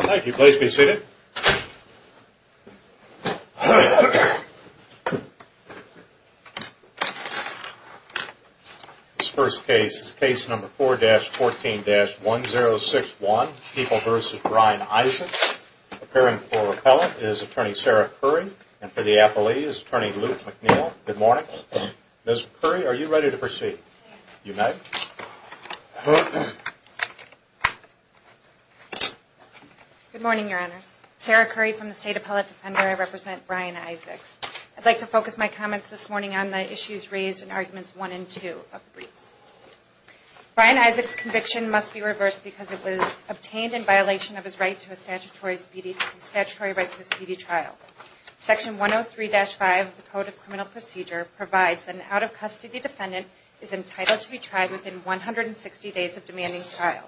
Thank you. Please be seated. This first case is case number 4-14-1061, People v. Ryan Isaacs. Appearing for repellent is Attorney Sarah Curry, and for the appellee is Attorney Luke McNeil. Good morning. Ms. Curry. Good morning, Your Honors. Sarah Curry from the State Appellate Defender. I represent Ryan Isaacs. I'd like to focus my comments this morning on the issues raised in Arguments 1 and 2 of the briefs. Ryan Isaacs' conviction must be reversed because it was obtained in violation of his right to a statutory speedy trial. Section 103-5 of the Code of Criminal Procedure provides that an out-of-custody defendant is entitled to be tried within 160 days of demanding trial,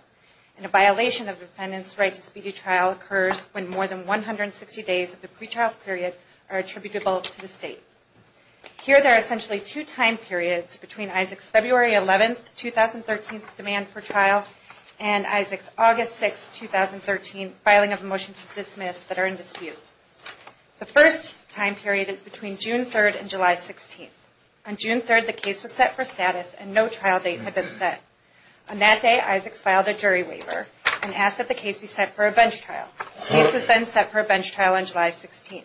and a violation of a defendant's right to speedy trial occurs when more than 160 days of the pretrial period are attributable to the State. Here there are essentially two time periods between Isaacs' February 11, 2013, demand for trial and Isaacs' August 6, 2013, filing of a motion to dismiss that are in dispute. The first time period is between June 3 and July 16. On June 3, the case was set for status and no trial date had been set. On that day, Isaacs filed a jury waiver and asked that the case be set for a bench trial. The case was then set for a bench trial on July 16.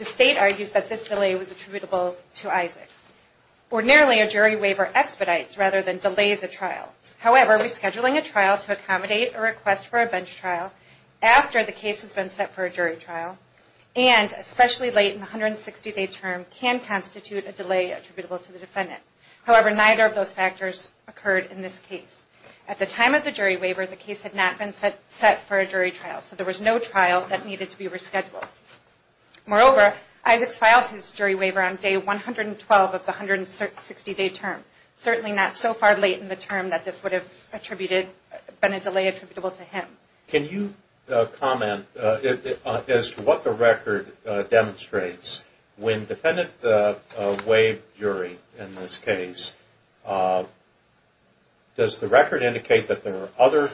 The State argues that this delay was attributable to Isaacs. Ordinarily, a jury waiver expedites rather than delays a trial. However, rescheduling a trial to accommodate a request for a bench jury trial, and especially late in the 160-day term, can constitute a delay attributable to the defendant. However, neither of those factors occurred in this case. At the time of the jury waiver, the case had not been set for a jury trial, so there was no trial that needed to be rescheduled. Moreover, Isaacs filed his jury waiver on day 112 of the 160-day term, certainly not so far late in the term that this would have been a delay attributable to him. Can you comment as to what the record demonstrates? When defendants waive jury in this case, does the record indicate that there were other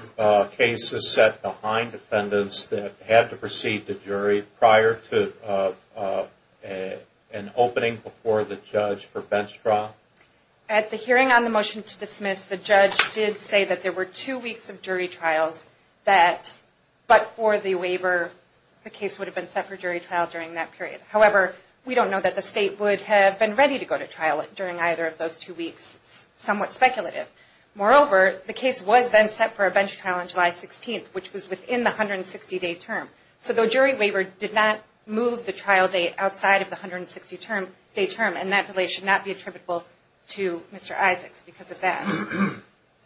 cases set behind defendants that had to proceed to jury prior to an opening before the judge for bench trial? At the hearing on the motion to dismiss, the judge did say that there were two weeks of bench trial that, but for the waiver, the case would have been set for jury trial during that period. However, we don't know that the state would have been ready to go to trial during either of those two weeks. It's somewhat speculative. Moreover, the case was then set for a bench trial on July 16th, which was within the 160-day term. So the jury waiver did not move the trial date outside of the 160-day term, and that delay should not be attributable to Mr. Isaacs because of that.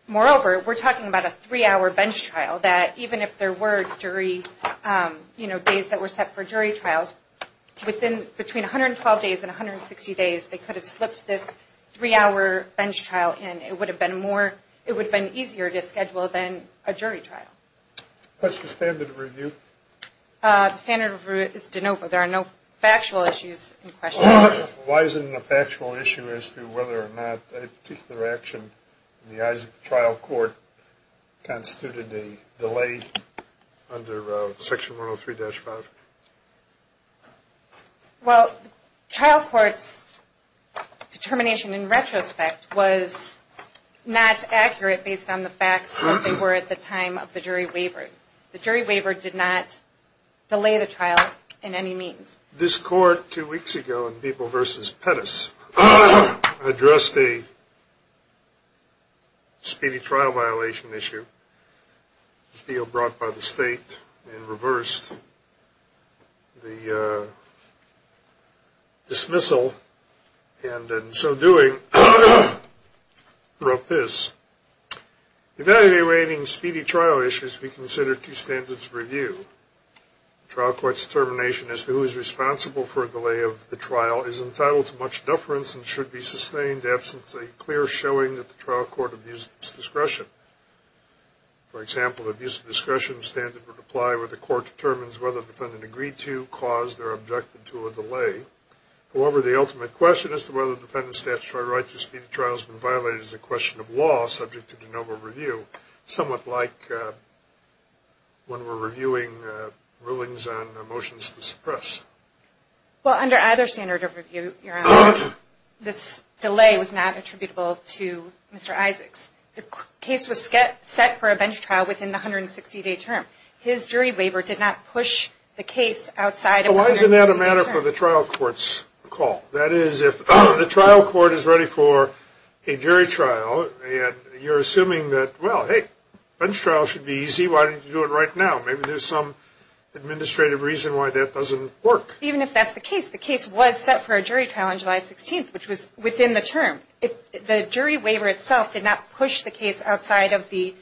Moreover, we're talking about a three-hour bench trial, that even if there were jury, you know, days that were set for jury trials, within, between 112 days and 160 days, they could have slipped this three-hour bench trial in. It would have been more, it would have been easier to schedule than a jury trial. What's the standard of review? The standard of review is de novo. There are no factual issues in question. Why isn't it a factual issue as to whether or not a particular action in the eyes of the jury would have resulted in a delay under Section 103-5? Well, trial court's determination in retrospect was not accurate based on the facts that they were at the time of the jury waiver. The jury waiver did not delay the trial in any means. This court two weeks ago in Beeble v. Pettis addressed a speedy trial violation issue brought by the state and reversed the dismissal, and in so doing, wrote this, evaluating speedy trial issues we consider two standards of review. Trial court's determination as to who is responsible for a delay of the trial is entitled to much deference and should be sustained absent a clear showing that the trial court abused its discretion. For example, the abuse of discretion standard would apply where the court determines whether the defendant agreed to, caused, or objected to a delay. However, the ultimate question as to whether the defendant's statutory right to a speedy trial has been violated is a question of law subject to de novo review, somewhat like when we're reviewing rulings on motions to suppress. Well, under either standard of review, Your Honor, this delay was not attributable to Mr. Isaacs. The case was set for a bench trial within the 160-day term. His jury waiver did not push the case outside of the 160-day term. Well, why isn't that a matter for the trial court's call? That is, if the trial court is ready for a jury trial, and you're assuming that, well, hey, bench trial should be easy, why don't you do it right now? Maybe there's some administrative reason why that doesn't work. Even if that's the case, the case was set for a jury trial on July 16th, which was within the term. The jury waiver itself did not push the case outside of the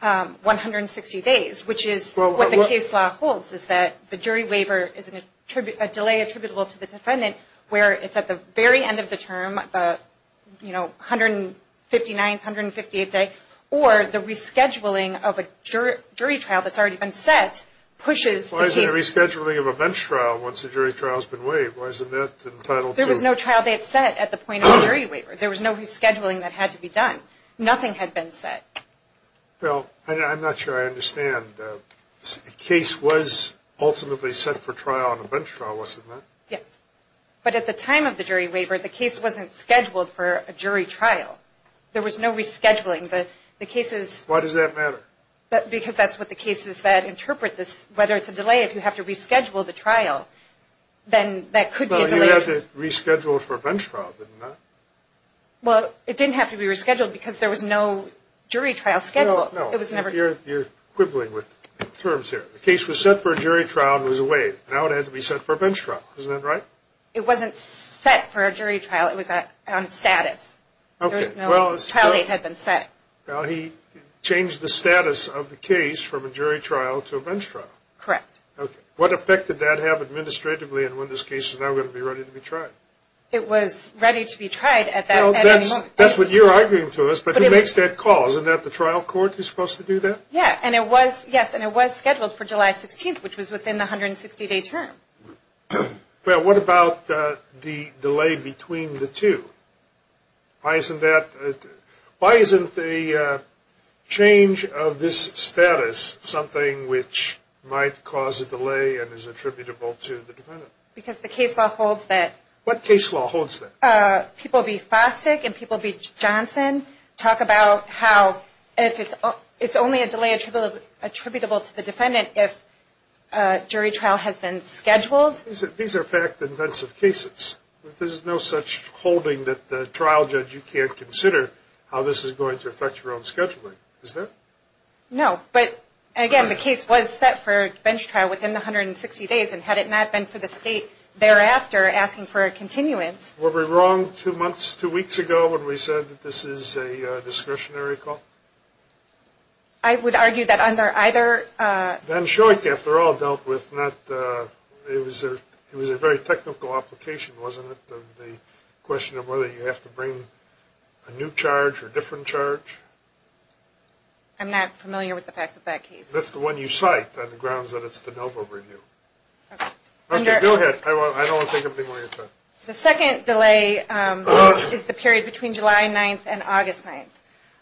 160 days, which is what the case law holds, is that the jury waiver is a delay attributable to the defendant where it's at the very end of the term, you know, 159th, 158th day, or the rescheduling of a jury trial that's already been set pushes the case. Why is there a rescheduling of a bench trial once the jury trial's been waived? Why isn't that entitled to? There was no trial date set at the point of the jury waiver. There was no rescheduling that had to be done. Nothing had been set. Well, I'm not sure I understand. The case was ultimately set for trial on a bench trial, wasn't it? Yes. But at the time of the jury waiver, the case wasn't scheduled for a jury trial. There was no rescheduling. The case is – Why does that matter? Because that's what the cases that interpret this, whether it's a delay, if you have to reschedule the trial, then that could be a delay. Well, you had to reschedule it for a bench trial, didn't you? Well, it didn't have to be rescheduled because there was no jury trial schedule. No, no. You're quibbling with terms here. The case was set for a jury trial and was waived. Now it had to be set for a bench trial. Isn't that right? It wasn't set for a jury trial. It was on status. There was no trial date had been set. Well, he changed the status of the case from a jury trial to a bench trial. Correct. What effect did that have administratively and when this case is now going to be ready to be tried? It was ready to be tried at that moment. That's what you're arguing to us, but who makes that call? Isn't that the trial court who's supposed to do that? Yes. And it was scheduled for July 16th, which was within the 160-day term. Well, what about the delay between the two? Why isn't the change of this status something which might cause a delay and is attributable to the defendant? Because the case law holds that. What case law holds that? People B. Fostick and people B. Johnson talk about how it's only a delay attributable to the defendant if a jury trial has been scheduled. These are fact-intensive cases. There's no such holding that the trial judge, you can't consider how this is going to affect your own scheduling. Is there? No. But, again, the case was set for a bench trial within the 160 days, and had it not been for the state thereafter asking for a continuance. Were we wrong two weeks ago when we said that this is a discretionary call? I would argue that under either – Ben Short, after all, dealt with not – it was a very technical application, wasn't it, the question of whether you have to bring a new charge or different charge? I'm not familiar with the facts of that case. That's the one you cite on the grounds that it's the Novo review. Okay. Okay, go ahead. I don't want to take up any more of your time. The second delay is the period between July 9th and August 9th.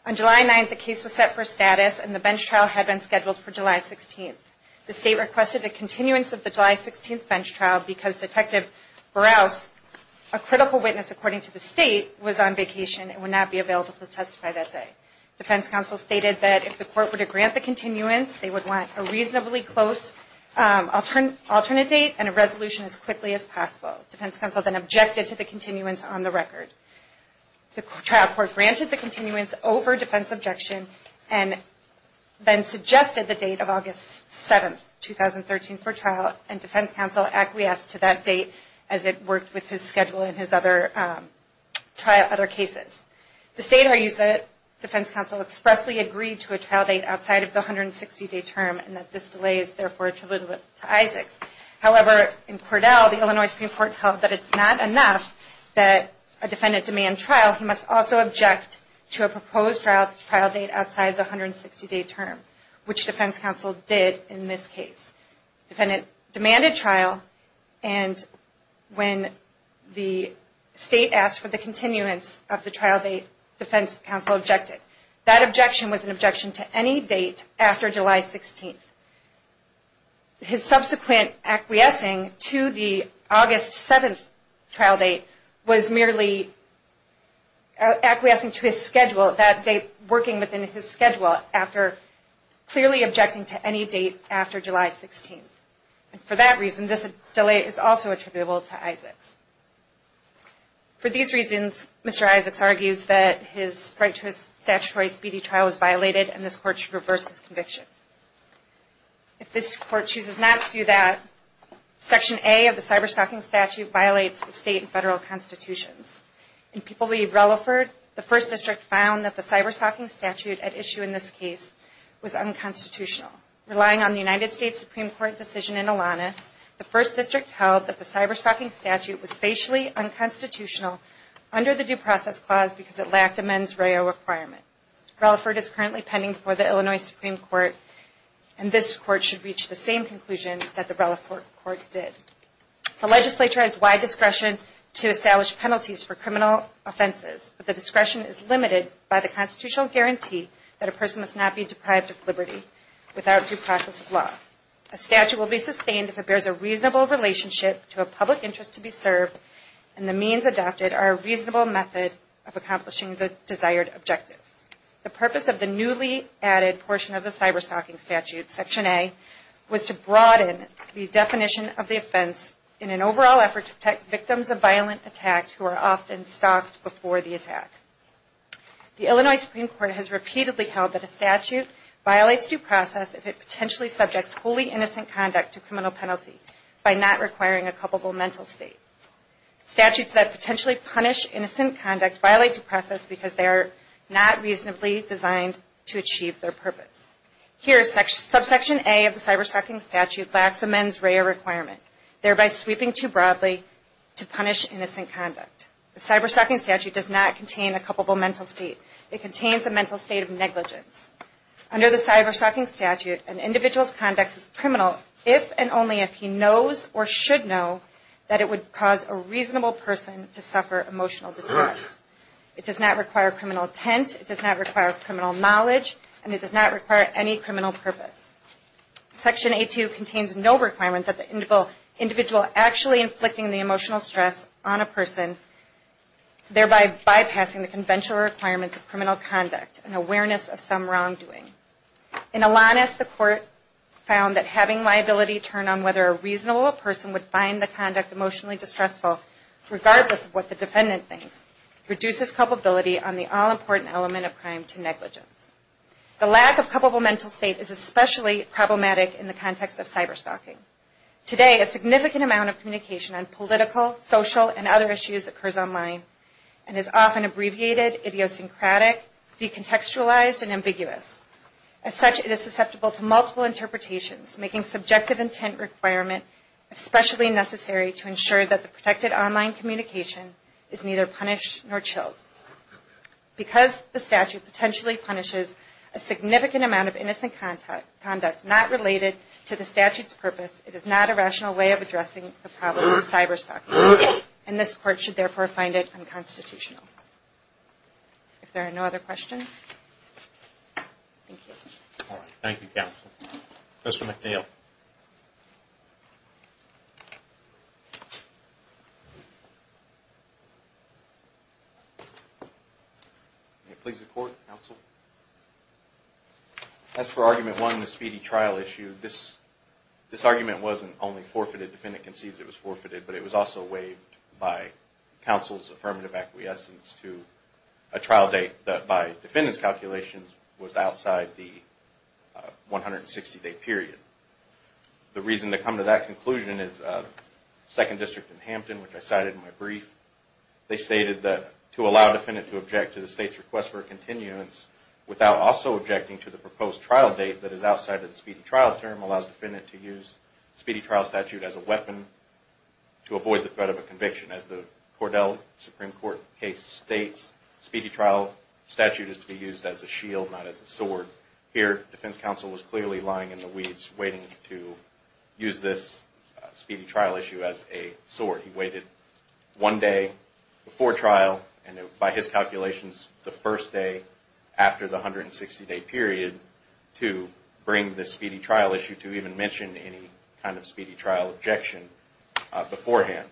On July 9th, the case was set for status, and the bench trial had been scheduled for July 16th. The state requested a continuance of the July 16th bench trial because Detective Burroughs, a critical witness according to the state, was on vacation and would not be available to testify that day. Defense counsel stated that if the court were to grant the continuance, they would want a reasonably close alternate date and a resolution as quickly as possible. Defense counsel then objected to the continuance on the record. The trial court granted the continuance over defense objection and then suggested the date of August 7th, 2013 for trial, and defense counsel acquiesced to that date as it worked with his schedule in his other trial cases. The state argues that defense counsel expressly agreed to a trial date outside of the 160-day term and that this delay is therefore a tribute to Isaacs. However, in Cordell, the Illinois Supreme Court held that it's not enough that a defendant demand trial, he must also object to a proposed trial date outside of the 160-day term, which defense counsel did in this case. Defendant demanded trial, and when the state asked for the continuance of the trial date, defense counsel objected. That objection was an objection to any date after July 16th. His subsequent acquiescing to the August 7th trial date was merely acquiescing to his schedule, that date working within his schedule after clearly objecting to any date after July 16th. For that reason, this delay is also attributable to Isaacs. For these reasons, Mr. Isaacs argues that his right to a statutory speedy trial was violated and this Court should reverse his conviction. If this Court chooses not to do that, Section A of the Cyberstalking Statute violates the state and federal constitutions. In People v. Relaford, the First District found that the Cyberstalking Statute at issue in this case was unconstitutional. Relying on the United States Supreme Court decision in Alanis, the First District held that the Cyberstalking Statute was facially unconstitutional under the Due Process Clause because it lacked a mens reo requirement. Relaford is currently pending before the Illinois Supreme Court and this Court should reach the same conclusion that the Relaford Court did. The legislature has wide discretion to establish penalties for criminal offenses, but the discretion is limited by the constitutional guarantee that a person must not be deprived of liberty without due process of law. A statute will be sustained if it bears a reasonable relationship to a public interest to be served and the means adopted are a reasonable method of accomplishing the desired objective. The purpose of the newly added portion of the Cyberstalking Statute, Section A, was to broaden the definition of the offense in an overall effort to protect victims of violent attack who are often stalked before the attack. The Illinois Supreme Court has repeatedly held that a statute violates due process if it potentially subjects wholly innocent conduct to criminal penalty by not requiring a culpable mental state. Statutes that potentially punish innocent conduct violate due process because they are not reasonably designed to achieve their purpose. Here, Subsection A of the Cyberstalking Statute lacks a mens reo requirement, thereby sweeping too broadly to punish innocent conduct. The Cyberstalking Statute does not contain a culpable mental state. It contains a mental state of negligence. Under the Cyberstalking Statute, an individual's conduct is criminal if and only if he knows or should know that it would cause a reasonable person to suffer emotional distress. It does not require criminal intent, it does not require criminal knowledge, and it does not require any criminal purpose. Section A2 contains no requirement that the individual actually inflicting the emotional stress on a person, thereby bypassing the conventional requirements of criminal conduct and awareness of some wrongdoing. In Alanis, the Court found that having liability turn on whether a reasonable person would find the conduct emotionally distressful, regardless of what the defendant thinks, reduces culpability on the all-important element of crime to negligence. The lack of culpable mental state is especially problematic in the context of cyberstalking. Today, a significant amount of communication on political, social, and other issues occurs online and is often abbreviated, idiosyncratic, decontextualized, and ambiguous. As such, it is susceptible to multiple interpretations, making subjective intent requirement especially necessary to ensure that the protected online communication is neither punished nor chilled. Because the statute potentially punishes a significant amount of innocent conduct not related to the statute's purpose, it is not a rational way of addressing the problem of cyberstalking. And this Court should therefore find it unconstitutional. If there are no other questions, thank you. Thank you, Counsel. Mr. McNeil. May it please the Court, Counsel? As for Argument 1, the speedy trial issue, this argument wasn't only forfeited. Defendant conceives it was forfeited, but it was also waived by Counsel's affirmative acquiescence to a trial date that by Defendant's calculations was outside the 160-day period. The reason to come to that conclusion is Second District in Hampton, which I cited in my brief. They stated that to allow Defendant to object to the State's request for a continuance without also objecting to the proposed trial date that is outside of the speedy trial term allows Defendant to use speedy trial statute as a weapon to avoid the threat of a conviction. As the Cordell Supreme Court case states, speedy trial statute is to be used as a shield, not as a sword. Here, Defense Counsel was clearly lying in the weeds waiting to use this speedy trial issue as a sword. He waited one day before trial, and by his calculations, the first day after the 160-day period to bring this speedy trial issue to even mention any kind of speedy trial objection beforehand.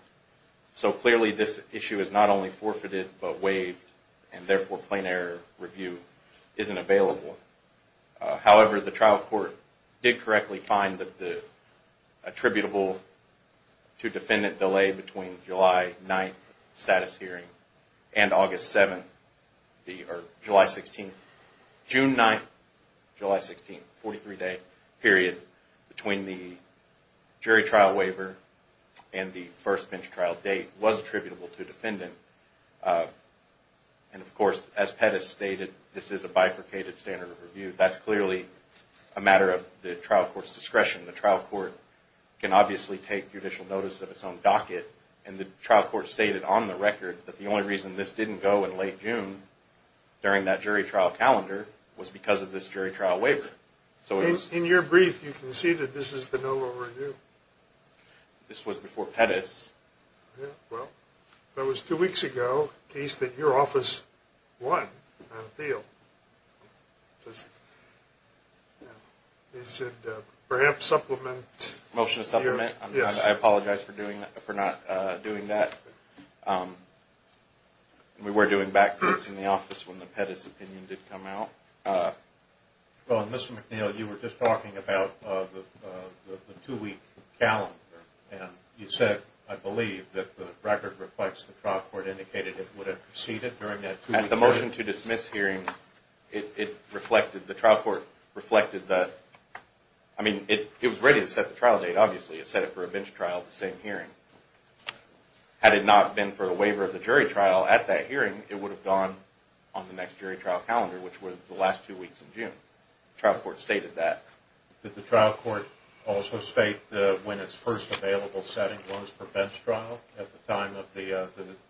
Clearly, this issue is not only forfeited, but waived, and therefore, plain error review isn't available. However, the trial court did correctly find that the attributable to Defendant delay between July 9th and July 16th, the 43-day period, between the jury trial waiver and the first bench trial date, was attributable to Defendant. Of course, as Pettis stated, this is a bifurcated standard of review. That's clearly a matter of the trial court's discretion. The trial court can obviously take judicial notice of its own docket. The trial court stated on the record that the only reason this didn't go in late June during that jury trial calendar was because of this jury trial waiver. In your brief, you conceded this is the no lower review. This was before Pettis. Well, that was two weeks ago, a case that your office won on appeal. Is it perhaps supplement? Motion to supplement? Yes. I apologize for not doing that. We were doing back reports in the office when the Pettis opinion did come out. Well, Mr. McNeil, you were just talking about the two-week calendar. You said, I believe, that the record reflects the trial court indicated it would have proceeded during that two-week calendar. At the motion to dismiss hearing, the trial court reflected that. I mean, it was ready to set the trial date, obviously. It set it for a bench trial, the same hearing. Had it not been for a waiver of the jury trial at that hearing, it would have gone on the next jury trial calendar, which was the last two weeks in June. The trial court stated that. Did the trial court also state when its first available setting was for bench trial at the time of the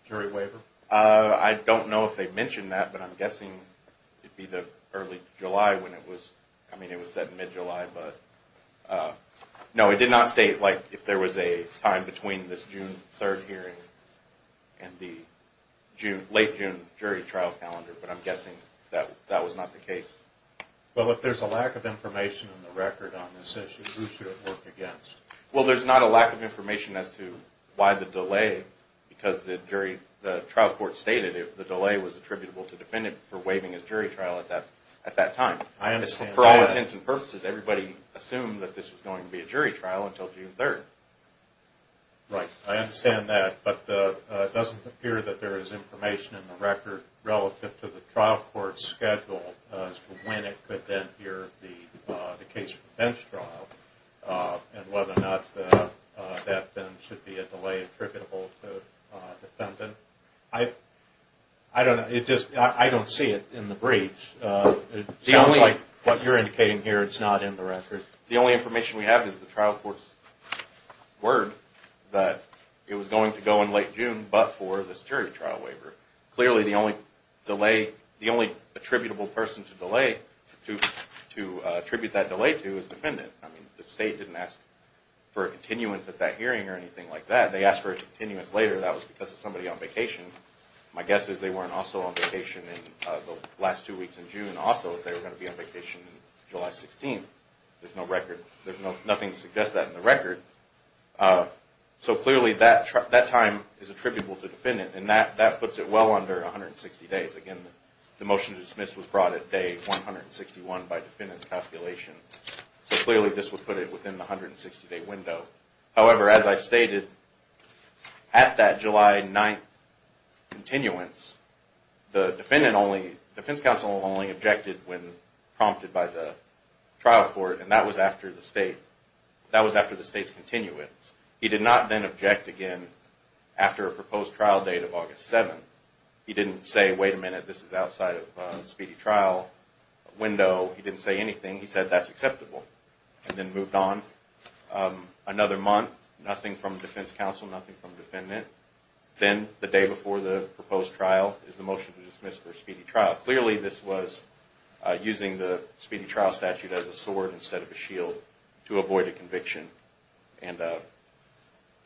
jury waiver? I don't know if they mentioned that, but I'm guessing it would be early July. I mean, it was set in mid-July. No, it did not state if there was a time between this June 3rd hearing and the late June jury trial calendar, but I'm guessing that was not the case. Well, if there's a lack of information in the record on this issue, who should it work against? Well, there's not a lack of information as to why the delay, because the trial court stated if the delay was attributable to the defendant for waiving his jury trial at that time. For all intents and purposes, everybody assumed that this was going to be a jury trial until June 3rd. Right. I understand that. But it doesn't appear that there is information in the record relative to the trial court's schedule as to when it could then hear the case for bench trial and whether or not that then should be a delay attributable to the defendant. I don't know. I don't see it in the briefs. It sounds like what you're indicating here, it's not in the record. The only information we have is the trial court's word that it was going to go in late June, but for this jury trial waiver. Clearly, the only attributable person to attribute that delay to is the defendant. I mean, the state didn't ask for a continuance at that hearing or anything like that. They asked for a continuance later. That was because of somebody on vacation. My guess is they weren't also on vacation in the last two weeks in June. Also, they were going to be on vacation July 16th. There's nothing to suggest that in the record. So clearly, that time is attributable to the defendant, and that puts it well under 160 days. Again, the motion to dismiss was brought at day 161 by defendant's calculation. So clearly, this would put it within the 160-day window. However, as I stated, at that July 9th continuance, the defense counsel only objected when prompted by the trial court, and that was after the state's continuance. He did not then object again after a proposed trial date of August 7th. He didn't say, wait a minute, this is outside of a speedy trial window. He didn't say anything. He said, that's acceptable, and then moved on. Another month, nothing from defense counsel, nothing from defendant. Then, the day before the proposed trial is the motion to dismiss for speedy trial. Clearly, this was using the speedy trial statute as a sword instead of a shield to avoid a conviction, and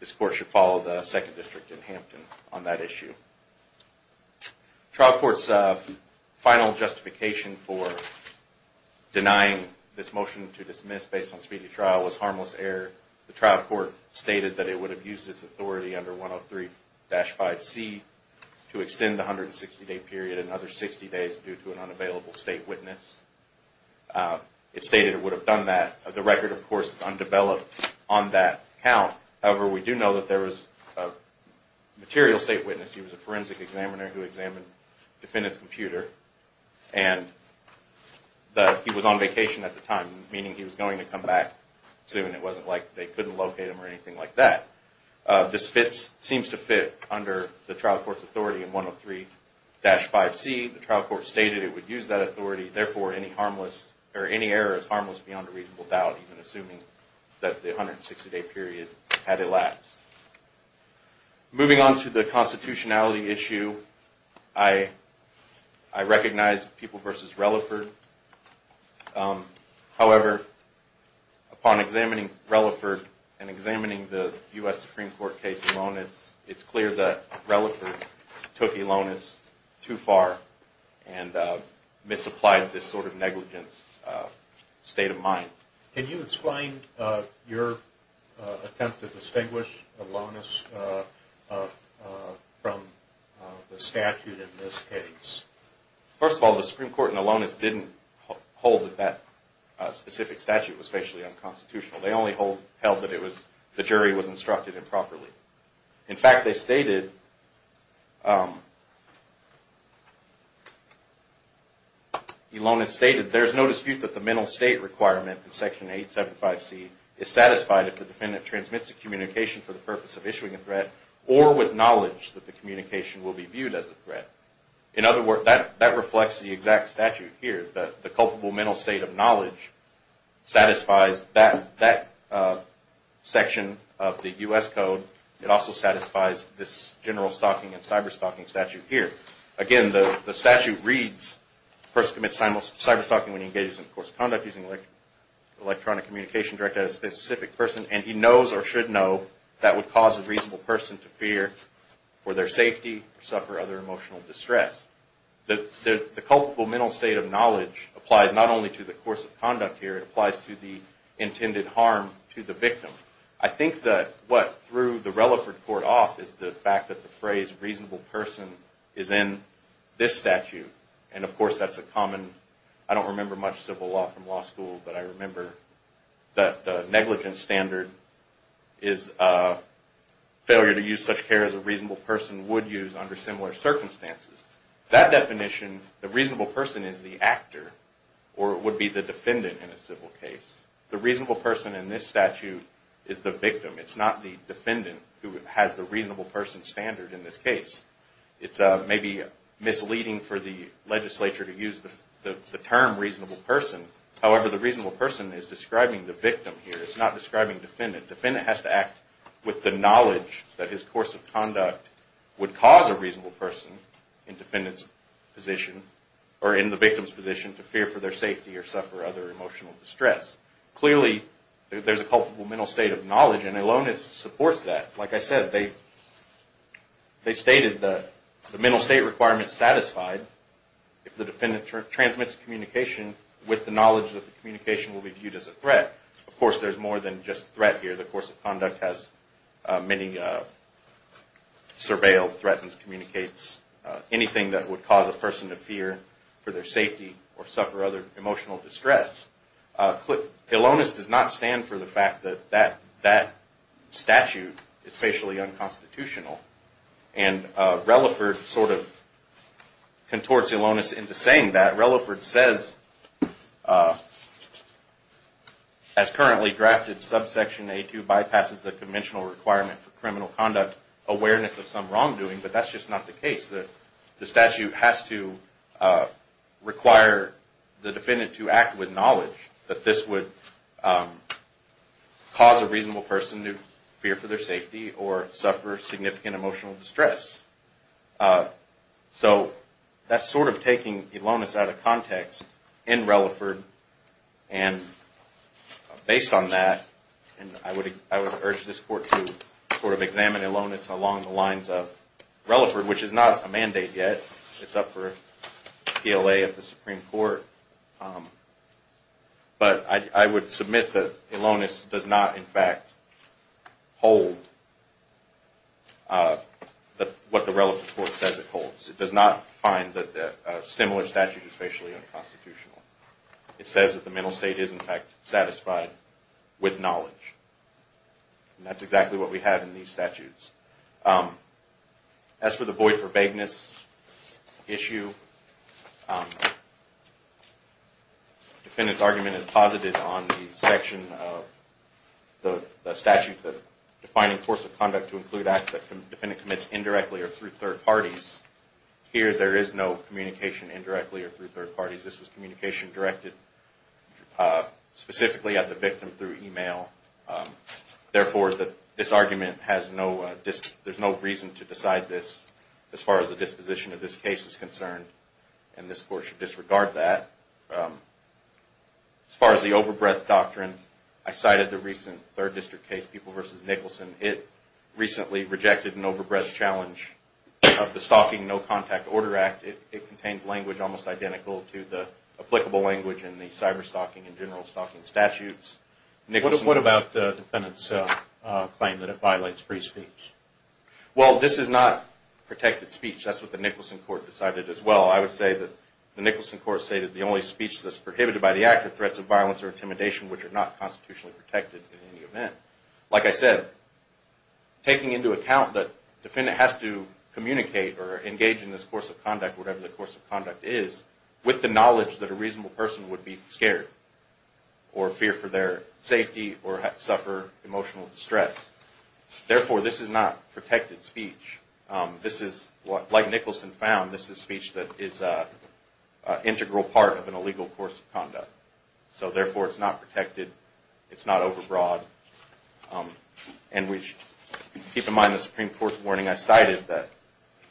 this court should follow the second district in Hampton on that issue. Trial court's final justification for denying this motion to dismiss based on speedy trial was harmless error. The trial court stated that it would have used its authority under 103-5C to extend the 160-day period another 60 days due to an unavailable state witness. It stated it would have done that. The record, of course, is undeveloped on that count. However, we do know that there was a material state witness. He was a forensic examiner who examined the defendant's computer. He was on vacation at the time, meaning he was going to come back soon. It wasn't like they couldn't locate him or anything like that. This seems to fit under the trial court's authority in 103-5C. The trial court stated it would use that authority. Therefore, any error is harmless beyond a reasonable doubt, even assuming that the 160-day period had elapsed. Moving on to the constitutionality issue, I recognize People v. Relaford. However, upon examining Relaford and examining the U.S. Supreme Court case, it's clear that Relaford took Elonis too far and misapplied this sort of negligence state of mind. Can you explain your attempt to distinguish Elonis from the statute in this case? First of all, the Supreme Court in Elonis didn't hold that that specific statute was facially unconstitutional. They only held that the jury was instructed improperly. In fact, Elonis stated, There is no dispute that the mental state requirement in Section 875C is satisfied if the defendant transmits a communication for the purpose of issuing a threat or with knowledge that the communication will be viewed as a threat. In other words, that reflects the exact statute here. The culpable mental state of knowledge satisfies that section of the U.S. Code. It also satisfies this general stalking and cyber-stalking statute here. Again, the statute reads, A person commits cyber-stalking when he engages in coerced conduct using electronic communication directed at a specific person, and he knows or should know that would cause a reasonable person to fear for their safety or suffer other emotional distress. The culpable mental state of knowledge applies not only to the course of conduct here, it applies to the intended harm to the victim. I think that what threw the Relaford Court off is the fact that the phrase reasonable person is in this statute, and of course that's a common, I don't remember much civil law from law school, but I remember that the negligence standard is a failure to use such care as a reasonable person would use under similar circumstances. That definition, the reasonable person is the actor or would be the defendant in a civil case. The reasonable person in this statute is the victim. It's not the defendant who has the reasonable person standard in this case. It's maybe misleading for the legislature to use the term reasonable person. However, the reasonable person is describing the victim here. It's not describing defendant. Defendant has to act with the knowledge that his course of conduct would cause a reasonable person in defendant's position or in the victim's position to fear for their safety or suffer other emotional distress. Clearly, there's a culpable mental state of knowledge, and Elonis supports that. Like I said, they stated the mental state requirement is satisfied if the defendant transmits communication with the knowledge that the communication will be viewed as a threat. Of course, there's more than just threat here. The course of conduct has many surveillance, threatens, communicates, anything that would cause a person to fear for their safety or suffer other emotional distress. Elonis does not stand for the fact that that statute is facially unconstitutional, and Relaford sort of contorts Elonis into saying that. Relaford says, as currently drafted, subsection A2 bypasses the conventional requirement for criminal conduct, awareness of some wrongdoing, but that's just not the case. The statute has to require the defendant to act with knowledge that this would cause a reasonable person to fear for their safety or suffer significant emotional distress. So that's sort of taking Elonis out of context in Relaford. And based on that, I would urge this Court to sort of examine Elonis along the lines of Relaford, which is not a mandate yet. It's up for PLA at the Supreme Court. But I would submit that Elonis does not, in fact, hold what the Relaford Court says it holds. It does not find that a similar statute is facially unconstitutional. It says that the mental state is, in fact, satisfied with knowledge. And that's exactly what we have in these statutes. As for the void for vagueness issue, the defendant's argument is posited on the section of the statute defining force of conduct to include acts that the defendant commits indirectly or through third parties. Here, there is no communication indirectly or through third parties. This was communication directed specifically at the victim through email. Therefore, this argument has no reason to decide this as far as the disposition of this case is concerned. And this Court should disregard that. As far as the overbreadth doctrine, I cited the recent Third District case, People v. Nicholson. It recently rejected an overbreadth challenge of the Stalking No Contact Order Act. It contains language almost identical to the applicable language in the cyberstalking and general stalking statutes. What about the defendant's claim that it violates free speech? Well, this is not protected speech. That's what the Nicholson Court decided as well. I would say that the Nicholson Court stated the only speech that's prohibited by the act are threats of violence or intimidation, which are not constitutionally protected in any event. Like I said, taking into account that the defendant has to communicate or engage in this force of conduct, whatever the force of conduct is, with the knowledge that a reasonable person would be scared or fear for their safety or suffer emotional distress. Therefore, this is not protected speech. Like Nicholson found, this is speech that is an integral part of an illegal force of conduct. So therefore, it's not protected. It's not overbroad. And keep in mind the Supreme Court's warning I cited that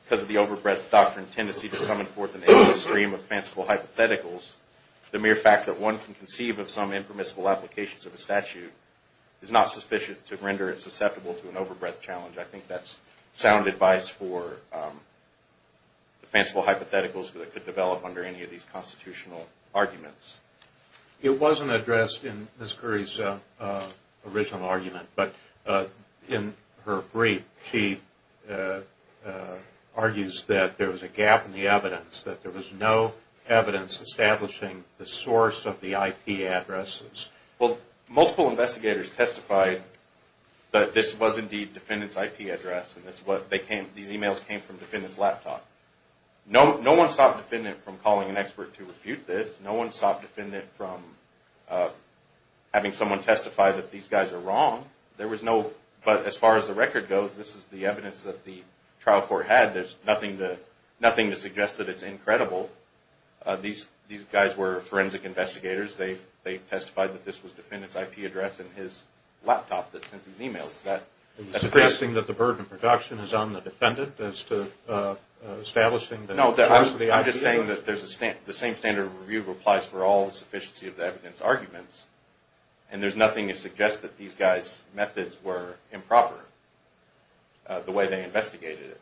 because of the overbreadth doctrine, the tendency to summon forth an endless stream of fanciful hypotheticals, the mere fact that one can conceive of some impermissible applications of a statute is not sufficient to render it susceptible to an overbreadth challenge. I think that's sound advice for the fanciful hypotheticals that could develop under any of these constitutional arguments. It wasn't addressed in Ms. Curry's original argument, but in her brief she argues that there was a gap in the evidence, that there was no evidence establishing the source of the IP addresses. Well, multiple investigators testified that this was indeed the defendant's IP address and these emails came from the defendant's laptop. No one stopped the defendant from calling an expert to refute this. No one stopped the defendant from having someone testify that these guys are wrong. But as far as the record goes, this is the evidence that the trial court had. There's nothing to suggest that it's incredible. These guys were forensic investigators. They testified that this was the defendant's IP address in his laptop that sent these emails. Are you suggesting that the burden of production is on the defendant as to establishing the source of the IP address? I'm just saying that the same standard of review applies for all the sufficiency of the evidence arguments and there's nothing to suggest that these guys' methods were improper the way they investigated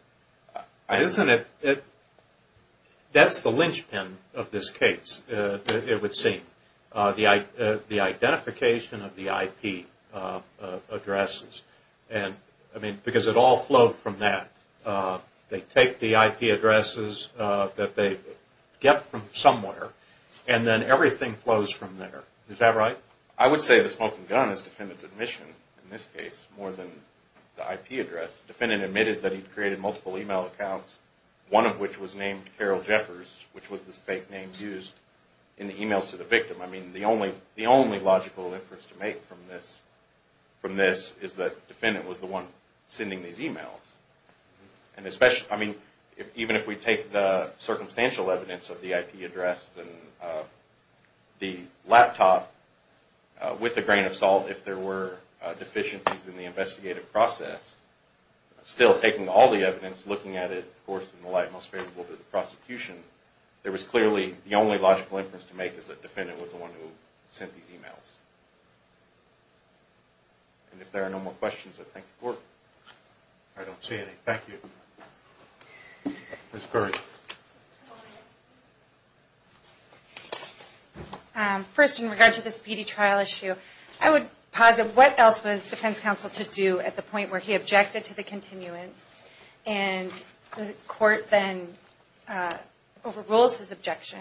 it. That's the linchpin of this case, it would seem. The identification of the IP addresses, because it all flowed from that. They take the IP addresses that they get from somewhere and then everything flows from there. Is that right? I would say the smoking gun is the defendant's admission in this case more than the IP address. The defendant admitted that he created multiple email accounts, one of which was named Carol Jeffers, which was the fake name used in the emails to the victim. The only logical inference to make from this is that the defendant was the one sending these emails. Even if we take the circumstantial evidence of the IP address and the laptop with a grain of salt, if there were deficiencies in the investigative process, still taking all the evidence, looking at it in the light most favorable to the prosecution, there was clearly the only logical inference to make is that the defendant was the one who sent these emails. And if there are no more questions, I thank the Court. I don't see any. Thank you. Ms. Burdick. First, in regard to this PD trial issue, I would posit what else was defense counsel to do at the point where he objected to the continuance and the Court then overrules his objection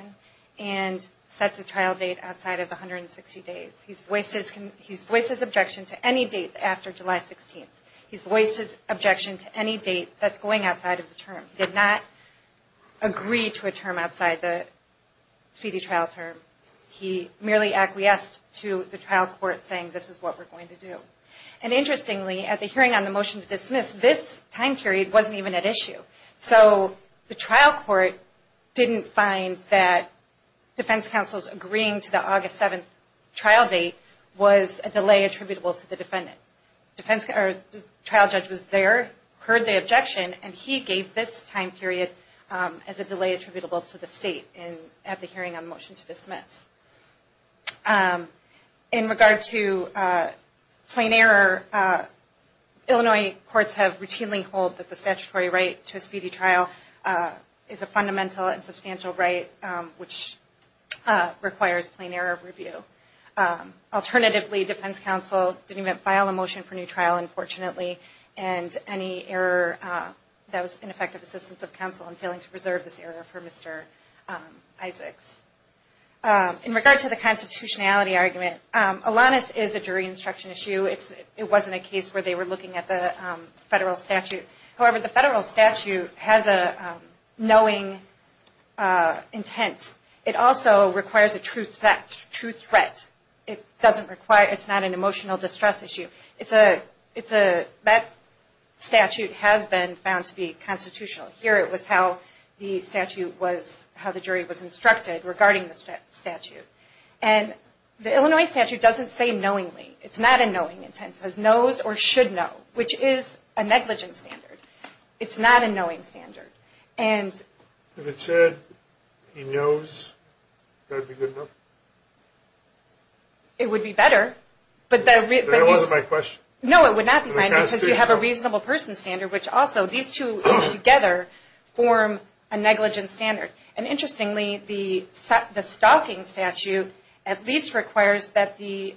and sets a trial date outside of 160 days. He's voiced his objection to any date after July 16th. He's voiced his objection to any date that's going outside of the term. He did not agree to a term outside the PD trial term. He merely acquiesced to the trial court saying this is what we're going to do. And interestingly, at the hearing on the motion to dismiss, this time period wasn't even at issue. So the trial court didn't find that defense counsel's agreeing to the August 7th trial date was a delay attributable to the defendant. The trial judge was there, heard the objection, and he gave this time period as a delay attributable to the state at the hearing on the motion to dismiss. In regard to plain error, Illinois courts have routinely held that the statutory right to a speedy trial is a fundamental and substantial right, which requires plain error review. Alternatively, defense counsel didn't even file a motion for new trial, unfortunately, and any error that was ineffective assistance of counsel in failing to preserve this error for Mr. Isaacs. In regard to the constitutionality argument, Alanis is a jury instruction issue. It wasn't a case where they were looking at the federal statute. However, the federal statute has a knowing intent. It also requires a true threat. It's not an emotional distress issue. That statute has been found to be constitutional. Here it was how the jury was instructed regarding the statute. And the Illinois statute doesn't say knowingly. It's not a knowing intent. It says knows or should know, which is a negligent standard. It's not a knowing standard. If it said he knows, that would be good enough? It would be better. That wasn't my question. No, it would not be mine because you have a reasonable person standard, which also these two together form a negligent standard. And interestingly, the stalking statute at least requires that the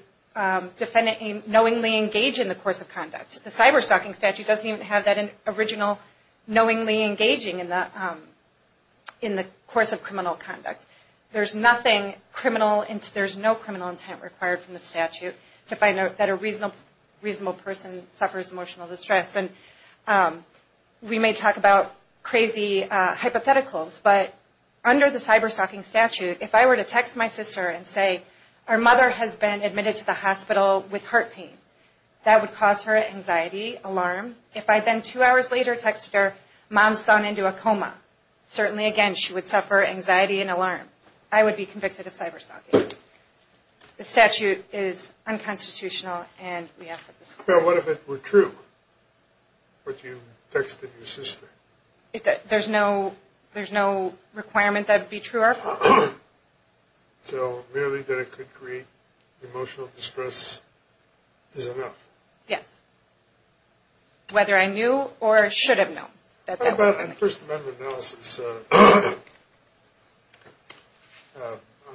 defendant knowingly engage in the course of conduct. The cyber stalking statute doesn't even have that original knowingly engaging in the course of criminal conduct. There's nothing criminal. There's no criminal intent required from the statute to find out that a reasonable person suffers emotional distress. And we may talk about crazy hypotheticals, but under the cyber stalking statute, if I were to text my sister and say our mother has been admitted to the hospital with heart pain, that would cause her anxiety, alarm. If I then two hours later texted her, mom's gone into a coma, certainly, again, she would suffer anxiety and alarm. I would be convicted of cyber stalking. The statute is unconstitutional, and we ask for this court. Now, what if it were true, what you texted your sister? There's no requirement that it be true or false. So merely that it could create emotional distress is enough? Yes. Whether I knew or should have known. How about a First Amendment analysis on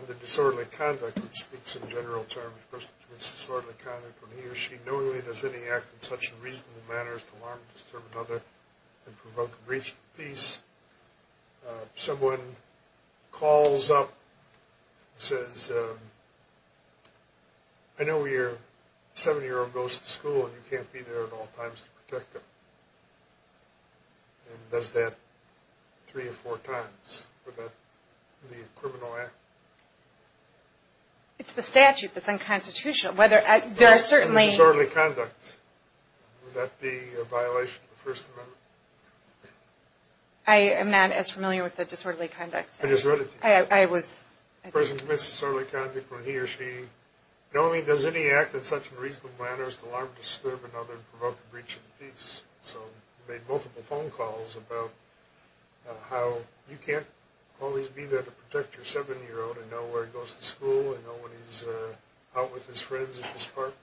the disorderly conduct that speaks in general terms. First, disorderly conduct when he or she knowingly does any act in such a reasonable manner as to alarm, disturb another, and provoke breach of peace. Someone calls up and says, I know your seven-year-old goes to school and you can't be there at all times to protect him, and does that three or four times. Would that be a criminal act? It's the statute that's unconstitutional. Disorderly conduct. Would that be a violation of the First Amendment? I am not as familiar with the disorderly conduct. I just read it to you. I was. A person commits disorderly conduct when he or she knowingly does any act in such a reasonable manner as to alarm, disturb another, and provoke a breach of peace. So you made multiple phone calls about how you can't always be there to protect your seven-year-old and know where he goes to school and know when he's out with his friends at his park?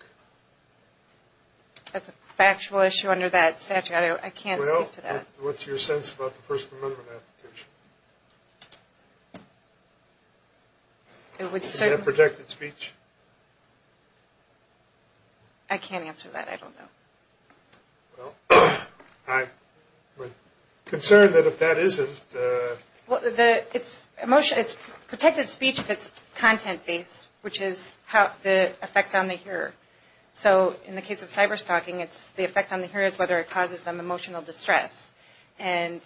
That's a factual issue under that statute. I can't speak to that. Well, what's your sense about the First Amendment application? Is that protected speech? I can't answer that. I don't know. Well, I'm concerned that if that isn't. It's protected speech that's content-based, which is the effect on the hearer. So in the case of cyberstalking, the effect on the hearer is whether it causes them emotional distress. And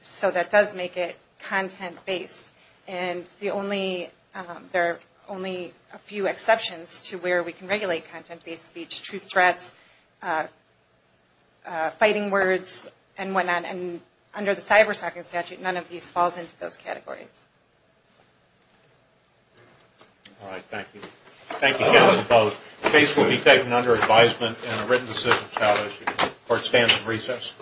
so that does make it content-based. And there are only a few exceptions to where we can regulate content-based speech, truth threats, fighting words, and what not. And under the cyberstalking statute, none of these falls into those categories. All right. Thank you. Thank you both. Case will be taken under advisement and a written decision is established. Court stands at recess.